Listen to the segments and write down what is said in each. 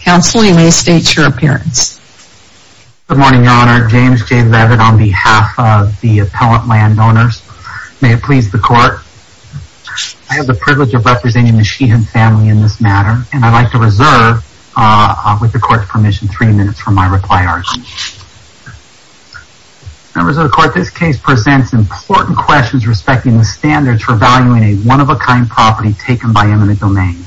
Counsel, you may state your appearance Good morning, Your Honor. James J. Leavitt on behalf of the Appellant Landowners. May it please the Court, I have the privilege of representing the Sheehan family in this matter, and I'd like to reserve, with the Court's permission, three minutes for my reply argument. Members of the Court, this case presents important questions respecting the standards for valuing a one-of-a-kind property taken by eminent domain.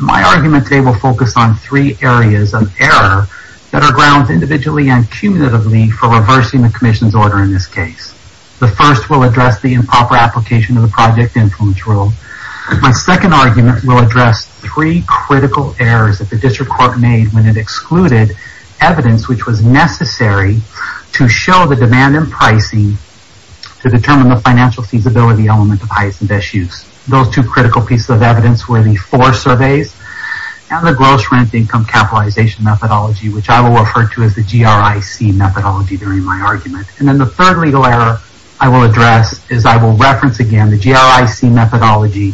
My argument today will focus on three areas of error that are grounds individually and cumulatively for reversing the Commission's order in this case. The first will address the improper application of the Project Influence Rule. My second argument will address three critical errors that the District Court made when it excluded evidence which was necessary to show the demand and pricing to determine the financial feasibility element of highest and best use. Those two critical pieces of evidence were the F.O.R.E. surveys and the Gross Rent Income Capitalization Methodology, which I will refer to as the G.R.I.C. methodology during my argument. And then the third legal error I will address is I will reference again the G.R.I.C. methodology,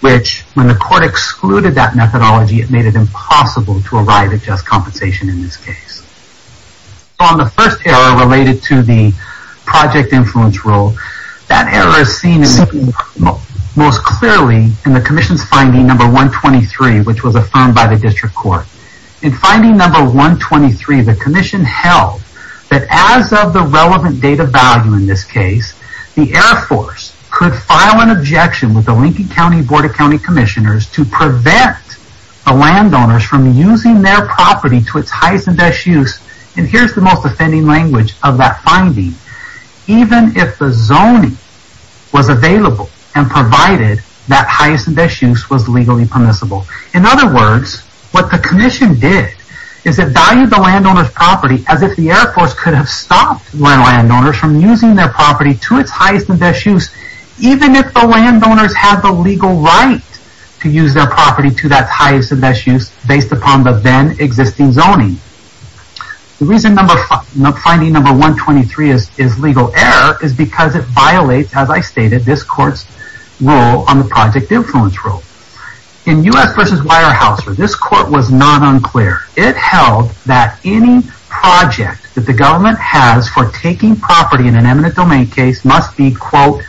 which when the Court excluded that methodology, it made it impossible to arrive at just compensation in this case. On the first error related to the Project Influence Rule, that error is seen most clearly in the Commission's finding number 123, which was affirmed by the District Court. In finding number 123, the Commission held that as of the relevant date of value in this case, the Air Force could file an objection with the Lincoln County Board of County Commissioners to prevent the landowners from using their property to its highest and best use. And here's the most offending language of that finding. Even if the zoning was available and provided that highest and best use was legally permissible. In other words, what the Commission did is it valued the landowner's property as if the Air Force could have stopped landowners from using their property to its highest and best use, even if the landowners had the legal right to use their property to that highest and best use based upon the then existing zoning. The reason finding number 123 is legal error is because it violates, as I stated, this Court's rule on the Project Influence Rule. In U.S. v. Weyerhaeuser, this Court was not unclear. It held that any project that the government has for taking property in an eminent domain case must be, quote,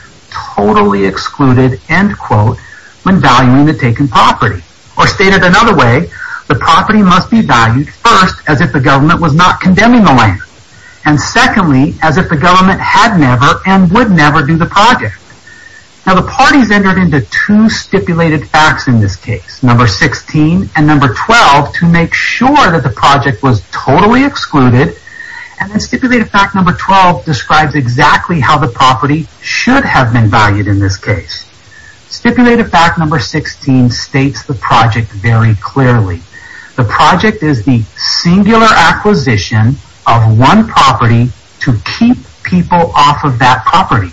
totally excluded, end quote, when valuing the taken property. Or stated another way, the property must be valued first as if the government was not condemning the land. And secondly, as if the government had never and would never do the project. Now the parties entered into two stipulated facts in this case, number 16 and number 12, to make sure that the project was totally excluded. And stipulated fact number 12 describes exactly how the property should have been valued in this case. Stipulated fact number 16 states the project very clearly. The project is the singular acquisition of one property to keep people off of that property.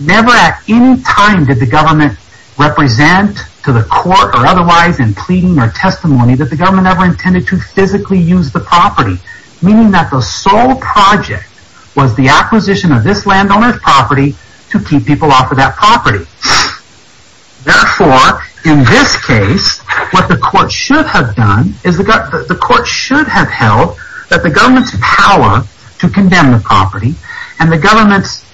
Never at any time did the government represent to the court or otherwise in pleading or testimony that the government ever intended to physically use the property. Meaning that the sole project was the acquisition of this landowner's property to keep people off of that property. Therefore, in this case, what the court should have done is the court should have held that the government's power to condemn the property and the government's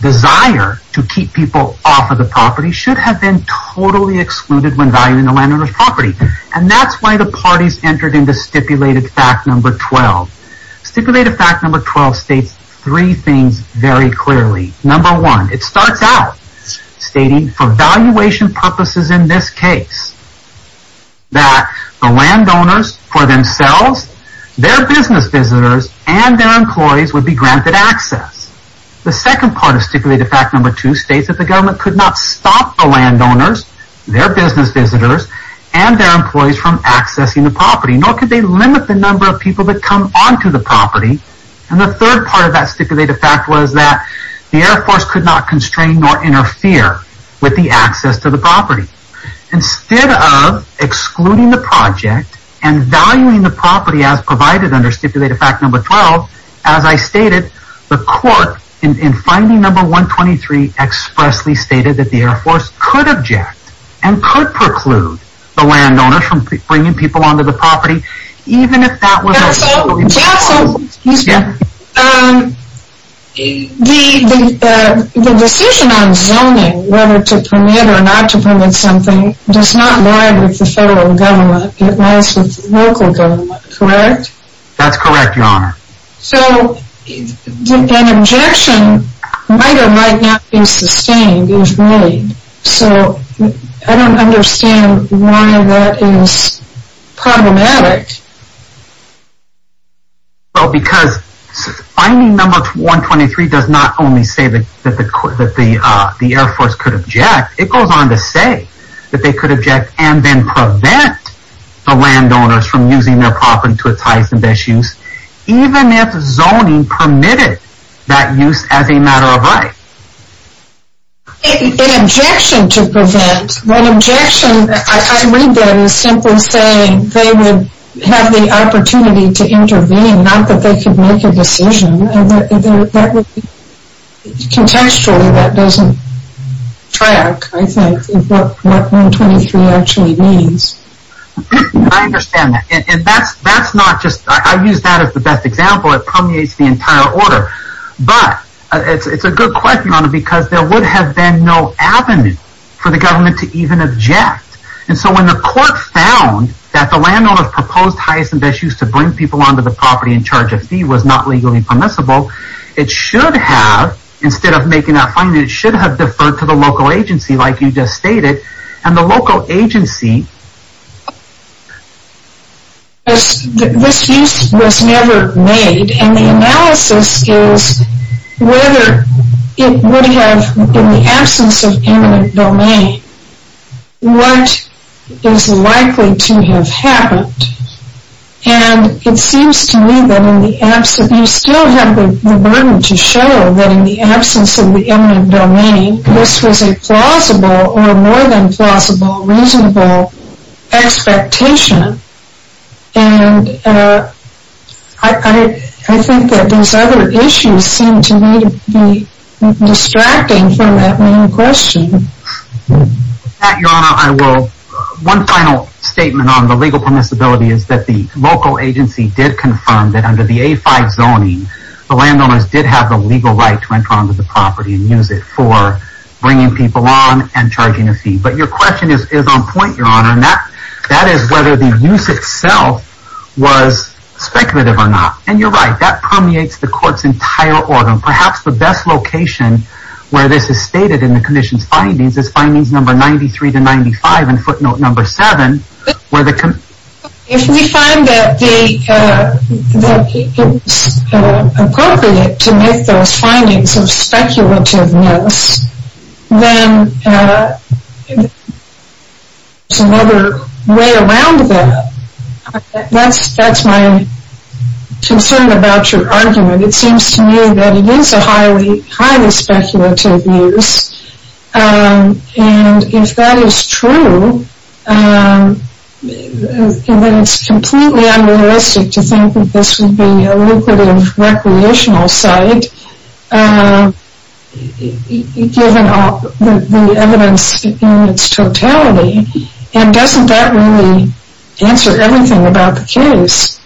desire to keep people off of the property should have been totally excluded when valuing the landowner's property. And that's why the parties entered into stipulated fact number 12. Stipulated fact number 12 states three things very clearly. Number one, it starts out stating for valuation purposes in this case that the landowners for themselves, their business visitors, and their employees would be granted access. The second part of stipulated fact number two states that the government could not stop the landowners, their business visitors, and their employees from accessing the property. Nor could they limit the number of people that come onto the property. And the third part of that stipulated fact was that the Air Force could not constrain or interfere with the access to the property. Instead of excluding the project and valuing the property as provided under stipulated fact number 12, as I stated, the court in finding number 123 expressly stated that the Air Force could object and could preclude the landowner from bringing people onto the property. The decision on zoning, whether to permit or not to permit something, does not lie with the federal government, it lies with the local government, correct? That's correct, your honor. So, an objection might or might not be sustained, so I don't understand why that is problematic. Well, because finding number 123 does not only say that the Air Force could object, it goes on to say that they could object and then prevent the landowners from using their property to its highest and best use, even if zoning permitted that use as a matter of right. An objection to prevent, an objection, I read that as simply saying they would have the opportunity to intervene, not that they could make a decision. Contextually, that doesn't track, I think, what 123 actually means. I understand that, and that's not just, I use that as the best example, it permeates the entire order. But, it's a good question, because there would have been no avenue for the government to even object. And so, when the court found that the landowner's proposed highest and best use to bring people onto the property in charge of fee was not legally permissible, it should have, instead of making that finding, it should have deferred to the local agency, like you just stated, and the local agency... That is likely to have happened, and it seems to me that in the absence, you still have the burden to show that in the absence of the eminent domain, this was a plausible, or more than plausible, reasonable expectation. And, I think that those other issues seem to me to be distracting from that main question. With that, your honor, I will, one final statement on the legal permissibility is that the local agency did confirm that under the A5 zoning, the landowners did have the legal right to enter onto the property and use it for bringing people on and charging a fee. But, your question is on point, your honor, and that is whether the use itself was speculative or not. And, you're right, that permeates the court's entire order. Perhaps the best location where this is stated in the commission's findings is findings number 93 to 95, and footnote number 7, where the... I'm concerned about your argument. It seems to me that it is a highly speculative use, and if that is true, then it's completely unrealistic to think that this would be a lucrative recreational site, given the evidence in its totality, and doesn't that really answer everything about the case?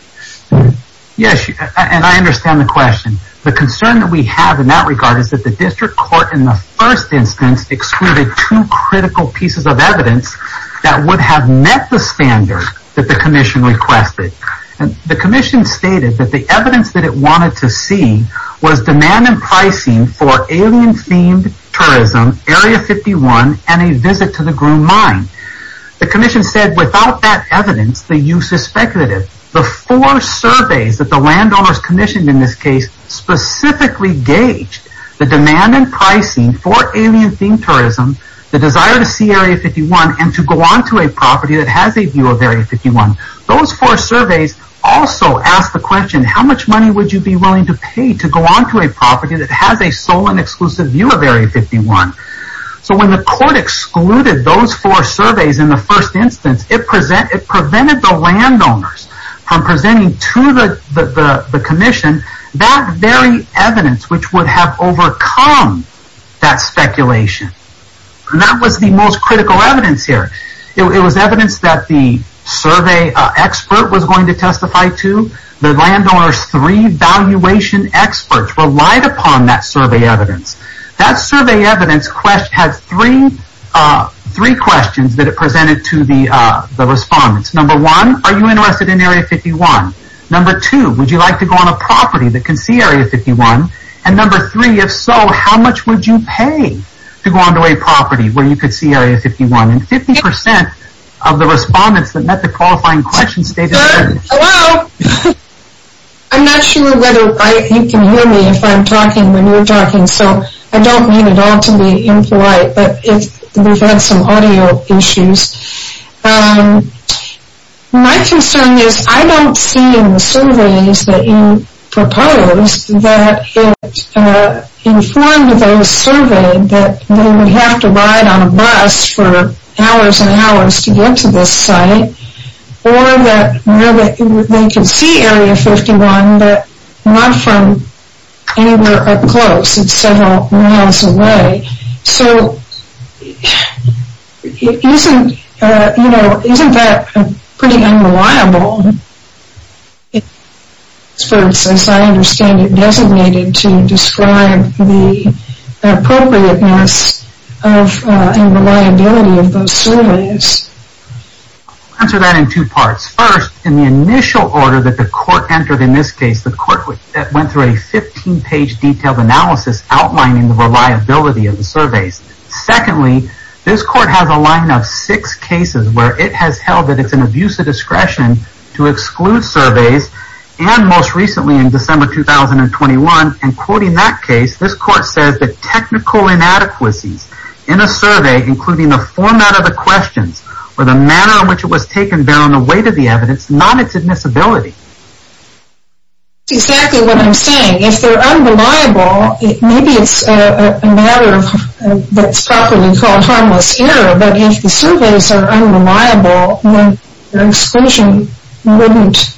Yes, and I understand the question. The concern that we have in that regard is that the district court, in the first instance, excluded two critical pieces of evidence that would have met the standard that the commission requested. The commission stated that the evidence that it wanted to see was demand and pricing for alien-themed tourism, Area 51, and a visit to the Groom Mine. The commission said without that evidence, the use is speculative. The four surveys that the landowners commissioned in this case specifically gauged the demand and pricing for alien-themed tourism, the desire to see Area 51, and to go onto a property that has a view of Area 51. Those four surveys also asked the question, how much money would you be willing to pay to go onto a property that has a sole and exclusive view of Area 51? So when the court excluded those four surveys in the first instance, it prevented the landowners from presenting to the commission that very evidence which would have overcome that speculation. That was the most critical evidence here. It was evidence that the survey expert was going to testify to. The landowner's three valuation experts relied upon that survey evidence. That survey evidence had three questions that it presented to the respondents. Number one, are you interested in Area 51? Number two, would you like to go on a property that can see Area 51? And number three, if so, how much would you pay to go onto a property where you could see Area 51? And 50% of the respondents that met the qualifying question stated... Hello? I'm not sure whether you can hear me if I'm talking when you're talking, so I don't mean it all to be impolite. But we've had some audio issues. My concern is I don't see in the surveys that you proposed that it informed those surveyed that they would have to ride on a bus for hours and hours to get to this site. Or that they can see Area 51, but not from anywhere up close. It's several miles away. So, isn't that pretty unreliable? Experts, as I understand it, designated to describe the appropriateness and reliability of those surveys. I'll answer that in two parts. First, in the initial order that the court entered in this case, the court went through a 15-page detailed analysis outlining the reliability of the surveys. Secondly, this court has a line of six cases where it has held that it's an abuse of discretion to exclude surveys. And most recently, in December 2021, in quoting that case, this court says that technical inadequacies in a survey, including the format of the questions, or the manner in which it was taken, bear on the weight of the evidence, not its admissibility. That's exactly what I'm saying. If they're unreliable, maybe it's a matter that's properly called harmless error, but if the surveys are unreliable, then exclusion wouldn't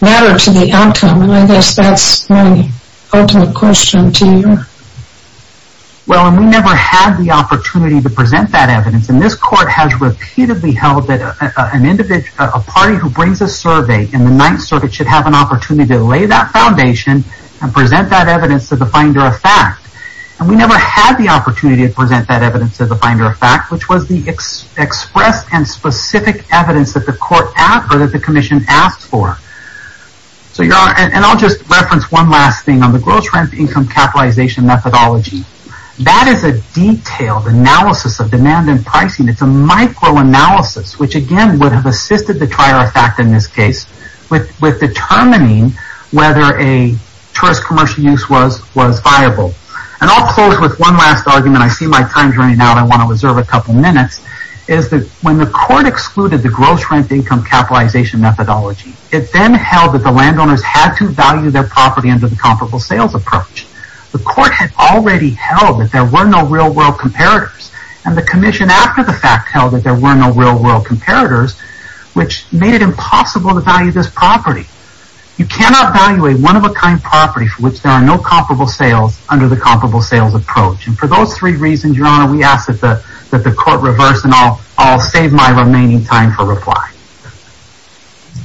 matter to the outcome. And I guess that's my ultimate question to you. Well, we never had the opportunity to present that evidence, and this court has repeatedly held that a party who brings a survey in the Ninth Circuit should have an opportunity to lay that foundation and present that evidence to the finder of fact. And we never had the opportunity to present that evidence to the finder of fact, which was the expressed and specific evidence that the commission asked for. And I'll just reference one last thing on the gross rent income capitalization methodology. That is a detailed analysis of demand and pricing. It's a micro-analysis, which again would have assisted the trier of fact in this case with determining whether a tourist commercial use was viable. And I'll close with one last argument. I see my time's running out. I want to reserve a couple minutes. When the court excluded the gross rent income capitalization methodology, it then held that the landowners had to value their property under the comparable sales approach. The court had already held that there were no real-world comparators, and the commission after the fact held that there were no real-world comparators, which made it impossible to value this property. You cannot value a one-of-a-kind property for which there are no comparable sales under the comparable sales approach. And for those three reasons, Your Honor, we ask that the court reverse, and I'll save my remaining time for reply.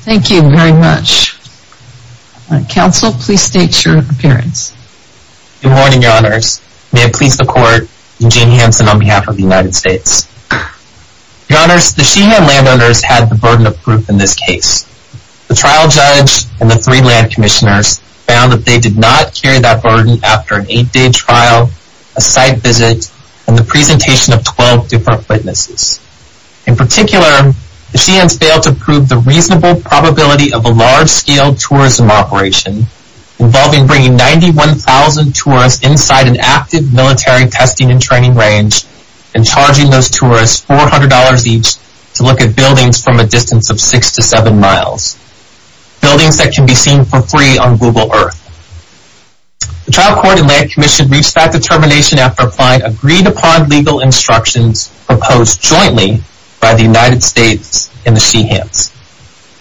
Thank you very much. Counsel, please state your appearance. Good morning, Your Honors. May it please the court, Eugene Hanson on behalf of the United States. Your Honors, the Sheehan landowners had the burden of proof in this case. The trial judge and the three land commissioners found that they did not carry that burden after an eight-day trial, a site visit, and the presentation of 12 different witnesses. In particular, the Sheehans failed to prove the reasonable probability of a large-scale tourism operation involving bringing 91,000 tourists inside an active military testing and training range and charging those tourists $400 each to look at buildings from a distance of six to seven miles. Buildings that can be seen for free on Google Earth. The trial court and land commission reached that determination after applying agreed-upon legal instructions proposed jointly by the United States and the Sheehans.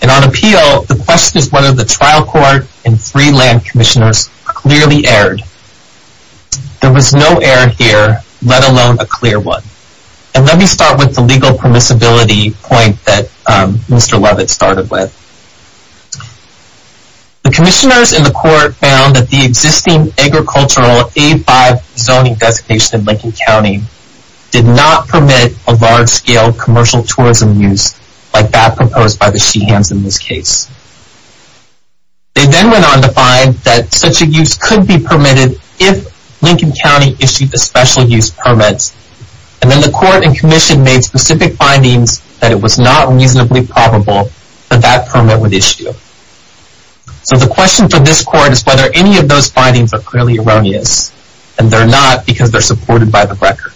And on appeal, the question is whether the trial court and three land commissioners clearly erred. There was no error here, let alone a clear one. And let me start with the legal permissibility point that Mr. Levitt started with. The commissioners in the court found that the existing agricultural A5 zoning designation in Lincoln County did not permit a large-scale commercial tourism use like that proposed by the Sheehans in this case. They then went on to find that such a use could be permitted if Lincoln County issued the special use permit. And then the court and commission made specific findings that it was not reasonably probable that that permit would issue. So the question for this court is whether any of those findings are clearly erroneous. And they're not because they're supported by the record.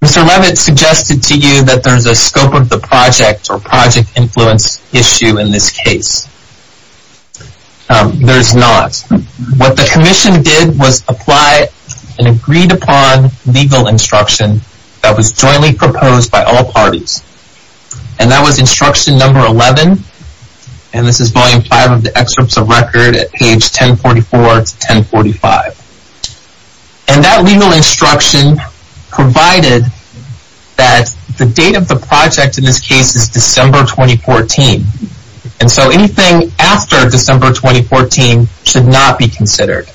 Mr. Levitt suggested to you that there's a scope of the project or project influence issue in this case. There's not. What the commission did was apply an agreed-upon legal instruction that was jointly proposed by all parties. And that was instruction number 11. And this is volume 5 of the excerpts of record at page 1044 to 1045. And that legal instruction provided that the date of the project in this case is December 2014. And so anything after December 2014 should not be considered.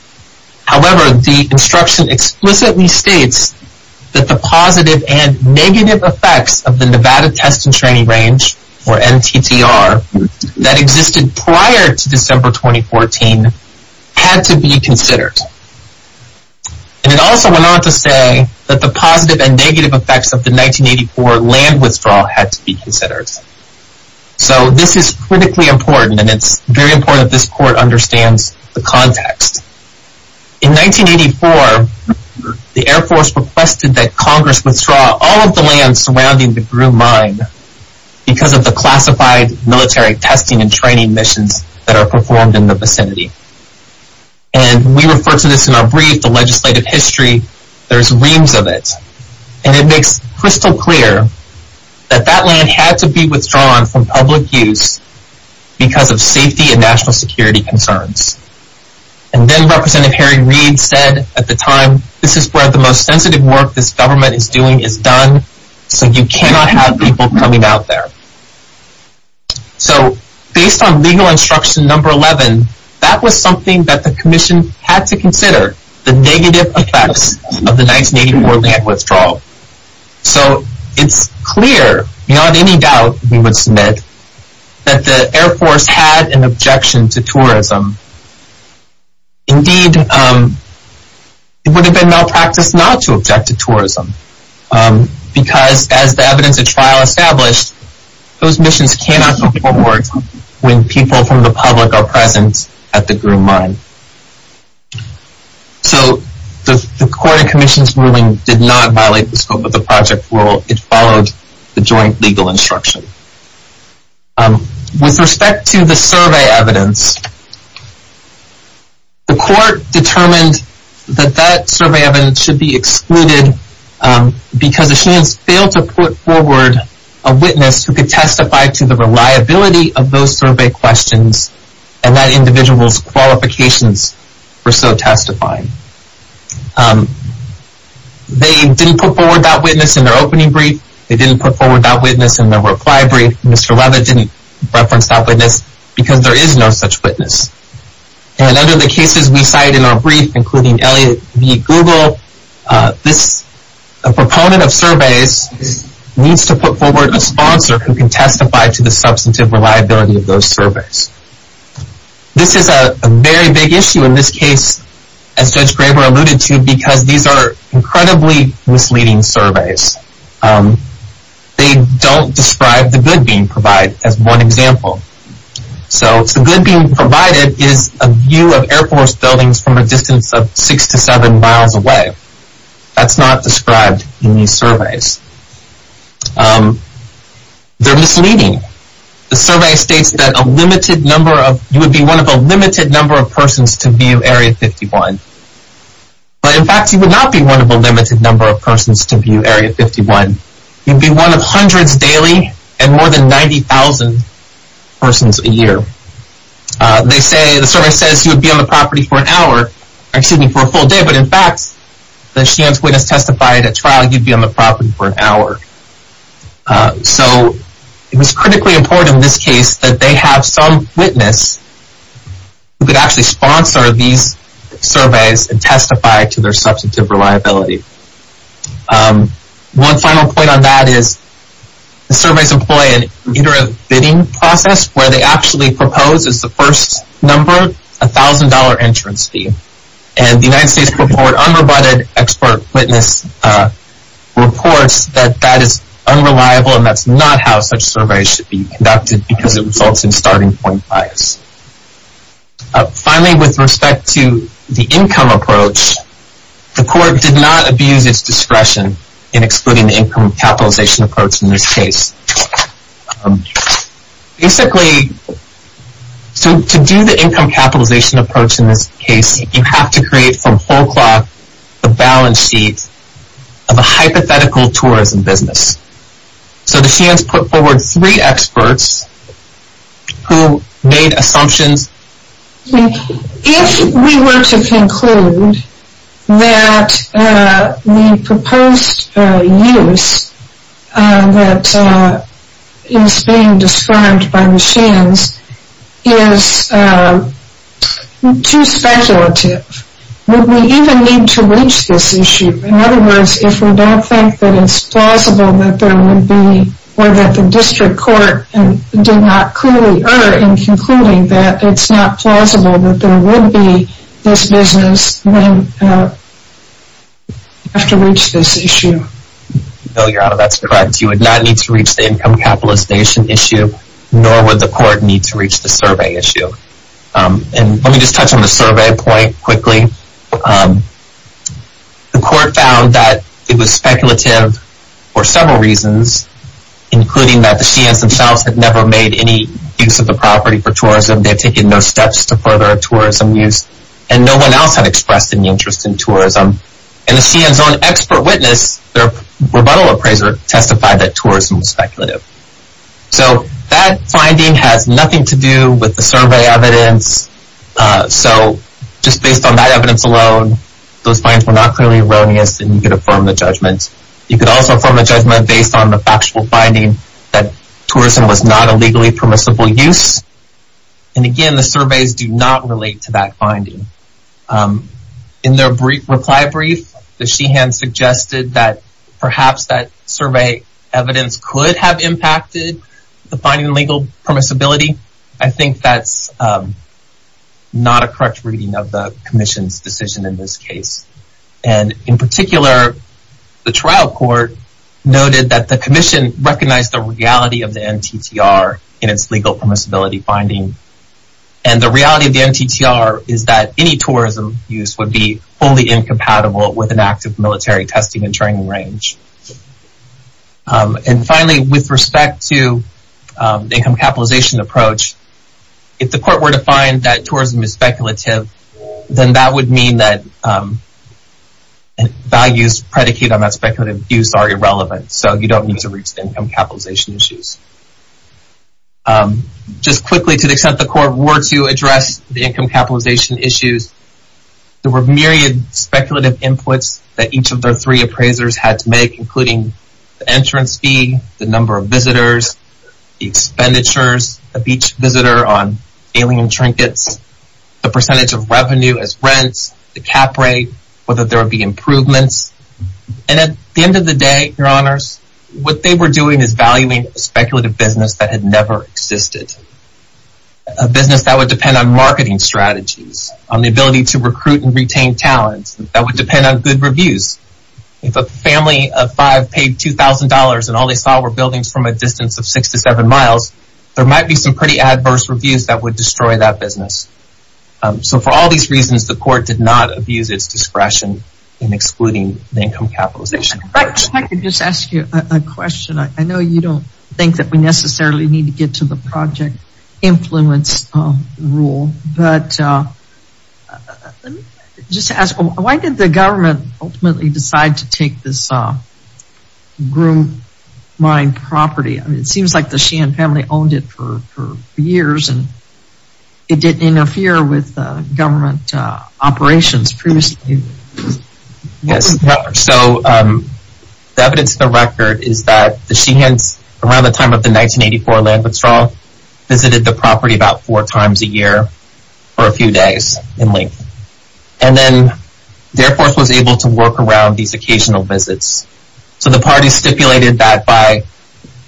However, the instruction explicitly states that the positive and negative effects of the Nevada Test and Training Range, or NTTR, that existed prior to December 2014 had to be considered. And it also went on to say that the positive and negative effects of the 1984 land withdrawal had to be considered. So this is critically important. And it's very important that this court understands the context. In 1984, the Air Force requested that Congress withdraw all of the land surrounding the Groom Mine because of the classified military testing and training missions that are performed in the vicinity. And we refer to this in our brief, the legislative history. There's reams of it. And it makes crystal clear that that land had to be withdrawn from public use because of safety and national security concerns. And then Representative Harry Reid said at the time, this is where the most sensitive work this government is doing is done, so you cannot have people coming out there. So based on legal instruction number 11, that was something that the commission had to consider, the negative effects of the 1984 land withdrawal. So it's clear, beyond any doubt, we would submit, that the Air Force had an objection to tourism. Indeed, it would have been malpractice not to object to tourism. Because as the evidence of trial established, those missions cannot be performed when people from the public are present at the Groom Mine. So the court and commission's ruling did not violate the scope of the project rule. It followed the joint legal instruction. With respect to the survey evidence, the court determined that that survey evidence should be excluded because the students failed to put forward a witness who could testify to the reliability of those survey questions and that individual's qualifications for so testifying. They didn't put forward that witness in their opening brief. They didn't put forward that witness in their reply brief. Mr. Leather didn't reference that witness because there is no such witness. And under the cases we cite in our brief, including Elliot v. Google, a proponent of surveys needs to put forward a sponsor who can testify to the substantive reliability of those surveys. This is a very big issue in this case, as Judge Graber alluded to, because these are incredibly misleading surveys. They don't describe the good being provided as one example. So the good being provided is a view of Air Force buildings from a distance of six to seven miles away. That's not described in these surveys. They're misleading. The survey states that you would be one of a limited number of persons to view Area 51. But in fact, you would not be one of a limited number of persons to view Area 51. You'd be one of hundreds daily and more than 90,000 persons a year. The survey says you would be on the property for a full day, but in fact, the chance witness testified at trial, you'd be on the property for an hour. So it was critically important in this case that they have some witness who could actually sponsor these surveys and testify to their substantive reliability. One final point on that is the surveys employ an iterative bidding process where they actually propose, as the first number, a $1,000 entrance fee. And the United States Court of War Unrebutted expert witness reports that that is unreliable and that's not how such surveys should be conducted because it results in starting point bias. Finally, with respect to the income approach, the court did not abuse its discretion in excluding the income capitalization approach in this case. Basically, to do the income capitalization approach in this case, you have to create from whole cloth a balance sheet of a hypothetical tourism business. So the Shands put forward three experts who made assumptions. If we were to conclude that the proposed use that is being described by the Shands is too speculative, would we even need to reach this issue? In other words, if we don't think that it's plausible that there would be, or that the district court did not clearly err in concluding that it's not plausible that there would be this business, then we'd have to reach this issue. No, Your Honor, that's correct. You would not need to reach the income capitalization issue, nor would the court need to reach the survey issue. Let me just touch on the survey point quickly. The court found that it was speculative for several reasons, including that the Shands themselves had never made any use of the property for tourism. They had taken no steps to further tourism use, and no one else had expressed any interest in tourism. And the Shands' own expert witness, their rebuttal appraiser, testified that tourism was speculative. So that finding has nothing to do with the survey evidence. So just based on that evidence alone, those findings were not clearly erroneous, and you could affirm the judgment. You could also affirm the judgment based on the factual finding that tourism was not a legally permissible use. And again, the surveys do not relate to that finding. In their reply brief, the Shands suggested that perhaps that survey evidence could have impacted the finding legal permissibility. I think that's not a correct reading of the commission's decision in this case. And in particular, the trial court noted that the commission recognized the reality of the NTTR in its legal permissibility finding. And the reality of the NTTR is that any tourism use would be wholly incompatible with an active military testing and training range. And finally, with respect to the income capitalization approach, if the court were to find that tourism is speculative, then that would mean that values predicated on that speculative use are irrelevant. So you don't need to reach the income capitalization issues. Just quickly, to the extent the court were to address the income capitalization issues, there were myriad speculative inputs that each of their three appraisers had to make, including the entrance fee, the number of visitors, the expenditures of each visitor on sailing and trinkets, the percentage of revenue as rents, the cap rate, whether there would be improvements. And at the end of the day, your honors, what they were doing is valuing a speculative business that had never existed. A business that would depend on marketing strategies, on the ability to recruit and retain talents, that would depend on good reviews. If a family of five paid $2,000 and all they saw were buildings from a distance of six to seven miles, there might be some pretty adverse reviews that would destroy that business. So for all these reasons, the court did not abuse its discretion in excluding the income capitalization. If I could just ask you a question. I know you don't think that we necessarily need to get to the project influence rule, but just to ask, why did the government ultimately decide to take this groomed mine property? It seems like the Sheehan family owned it for years and it didn't interfere with government operations previously. Yes. So the evidence of the record is that the Sheehans, around the time of the 1984 land withdrawal, visited the property about four times a year for a few days in length. And then the Air Force was able to work around these occasional visits. So the party stipulated that by,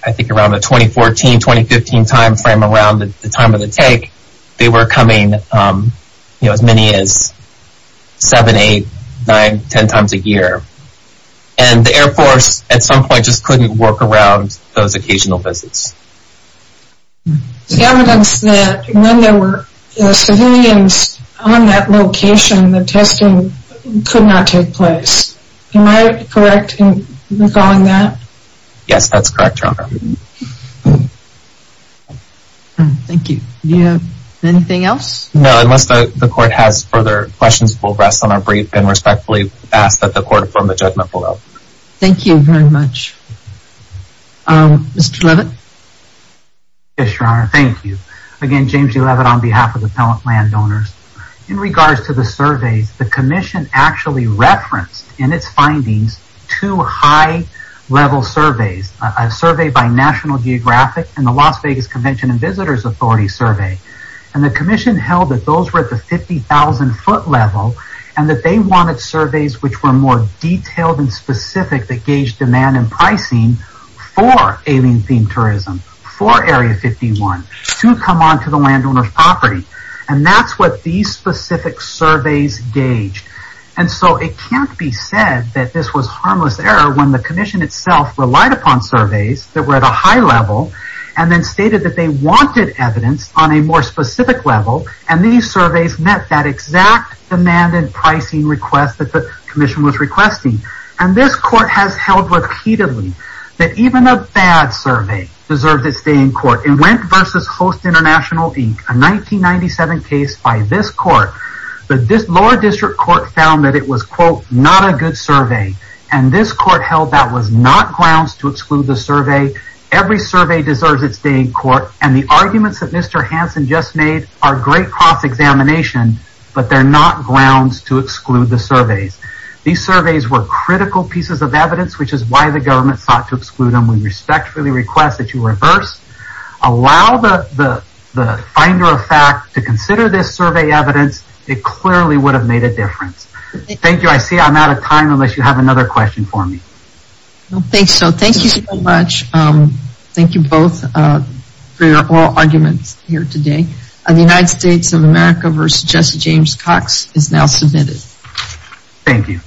I think, around the 2014-2015 timeframe, around the time of the take, they were coming as many as seven, eight, nine, ten times a year. And the Air Force, at some point, just couldn't work around those occasional visits. The evidence that when there were civilians on that location, the testing could not take place. Am I correct in calling that? Yes, that's correct, Your Honor. Thank you. Do you have anything else? No, unless the court has further questions, we'll rest on our brief and respectfully ask that the court form a judgment below. Thank you very much. Mr. Leavitt? Yes, Your Honor. Thank you. Again, James D. Leavitt on behalf of the appellant landowners. In regards to the surveys, the commission actually referenced in its findings two high-level surveys. A survey by National Geographic and the Las Vegas Convention and Visitors Authority survey. And the commission held that those were at the 50,000-foot level, and that they wanted surveys which were more detailed and specific that gauged demand and pricing for alien-themed tourism, for Area 51, to come onto the landowner's property. And that's what these specific surveys gauged. And so it can't be said that this was harmless error when the commission itself relied upon surveys that were at a high level, and then stated that they wanted evidence on a more specific level, and these surveys met that exact demand and pricing request that the commission was requesting. And this court has held repeatedly that even a bad survey deserves its day in court. In Wendt v. Host International Inc., a 1997 case by this court, the lower district court found that it was, quote, not a good survey. And this court held that was not grounds to exclude the survey. Every survey deserves its day in court, and the arguments that Mr. Hansen just made are great cross-examination, but they're not grounds to exclude the surveys. These surveys were critical pieces of evidence, which is why the government sought to exclude them. And we respectfully request that you reverse, allow the finder of fact to consider this survey evidence. It clearly would have made a difference. Thank you. I see I'm out of time unless you have another question for me. I don't think so. Thank you so much. Thank you both for your oral arguments here today. The United States of America v. Jesse James Cox is now submitted. Thank you.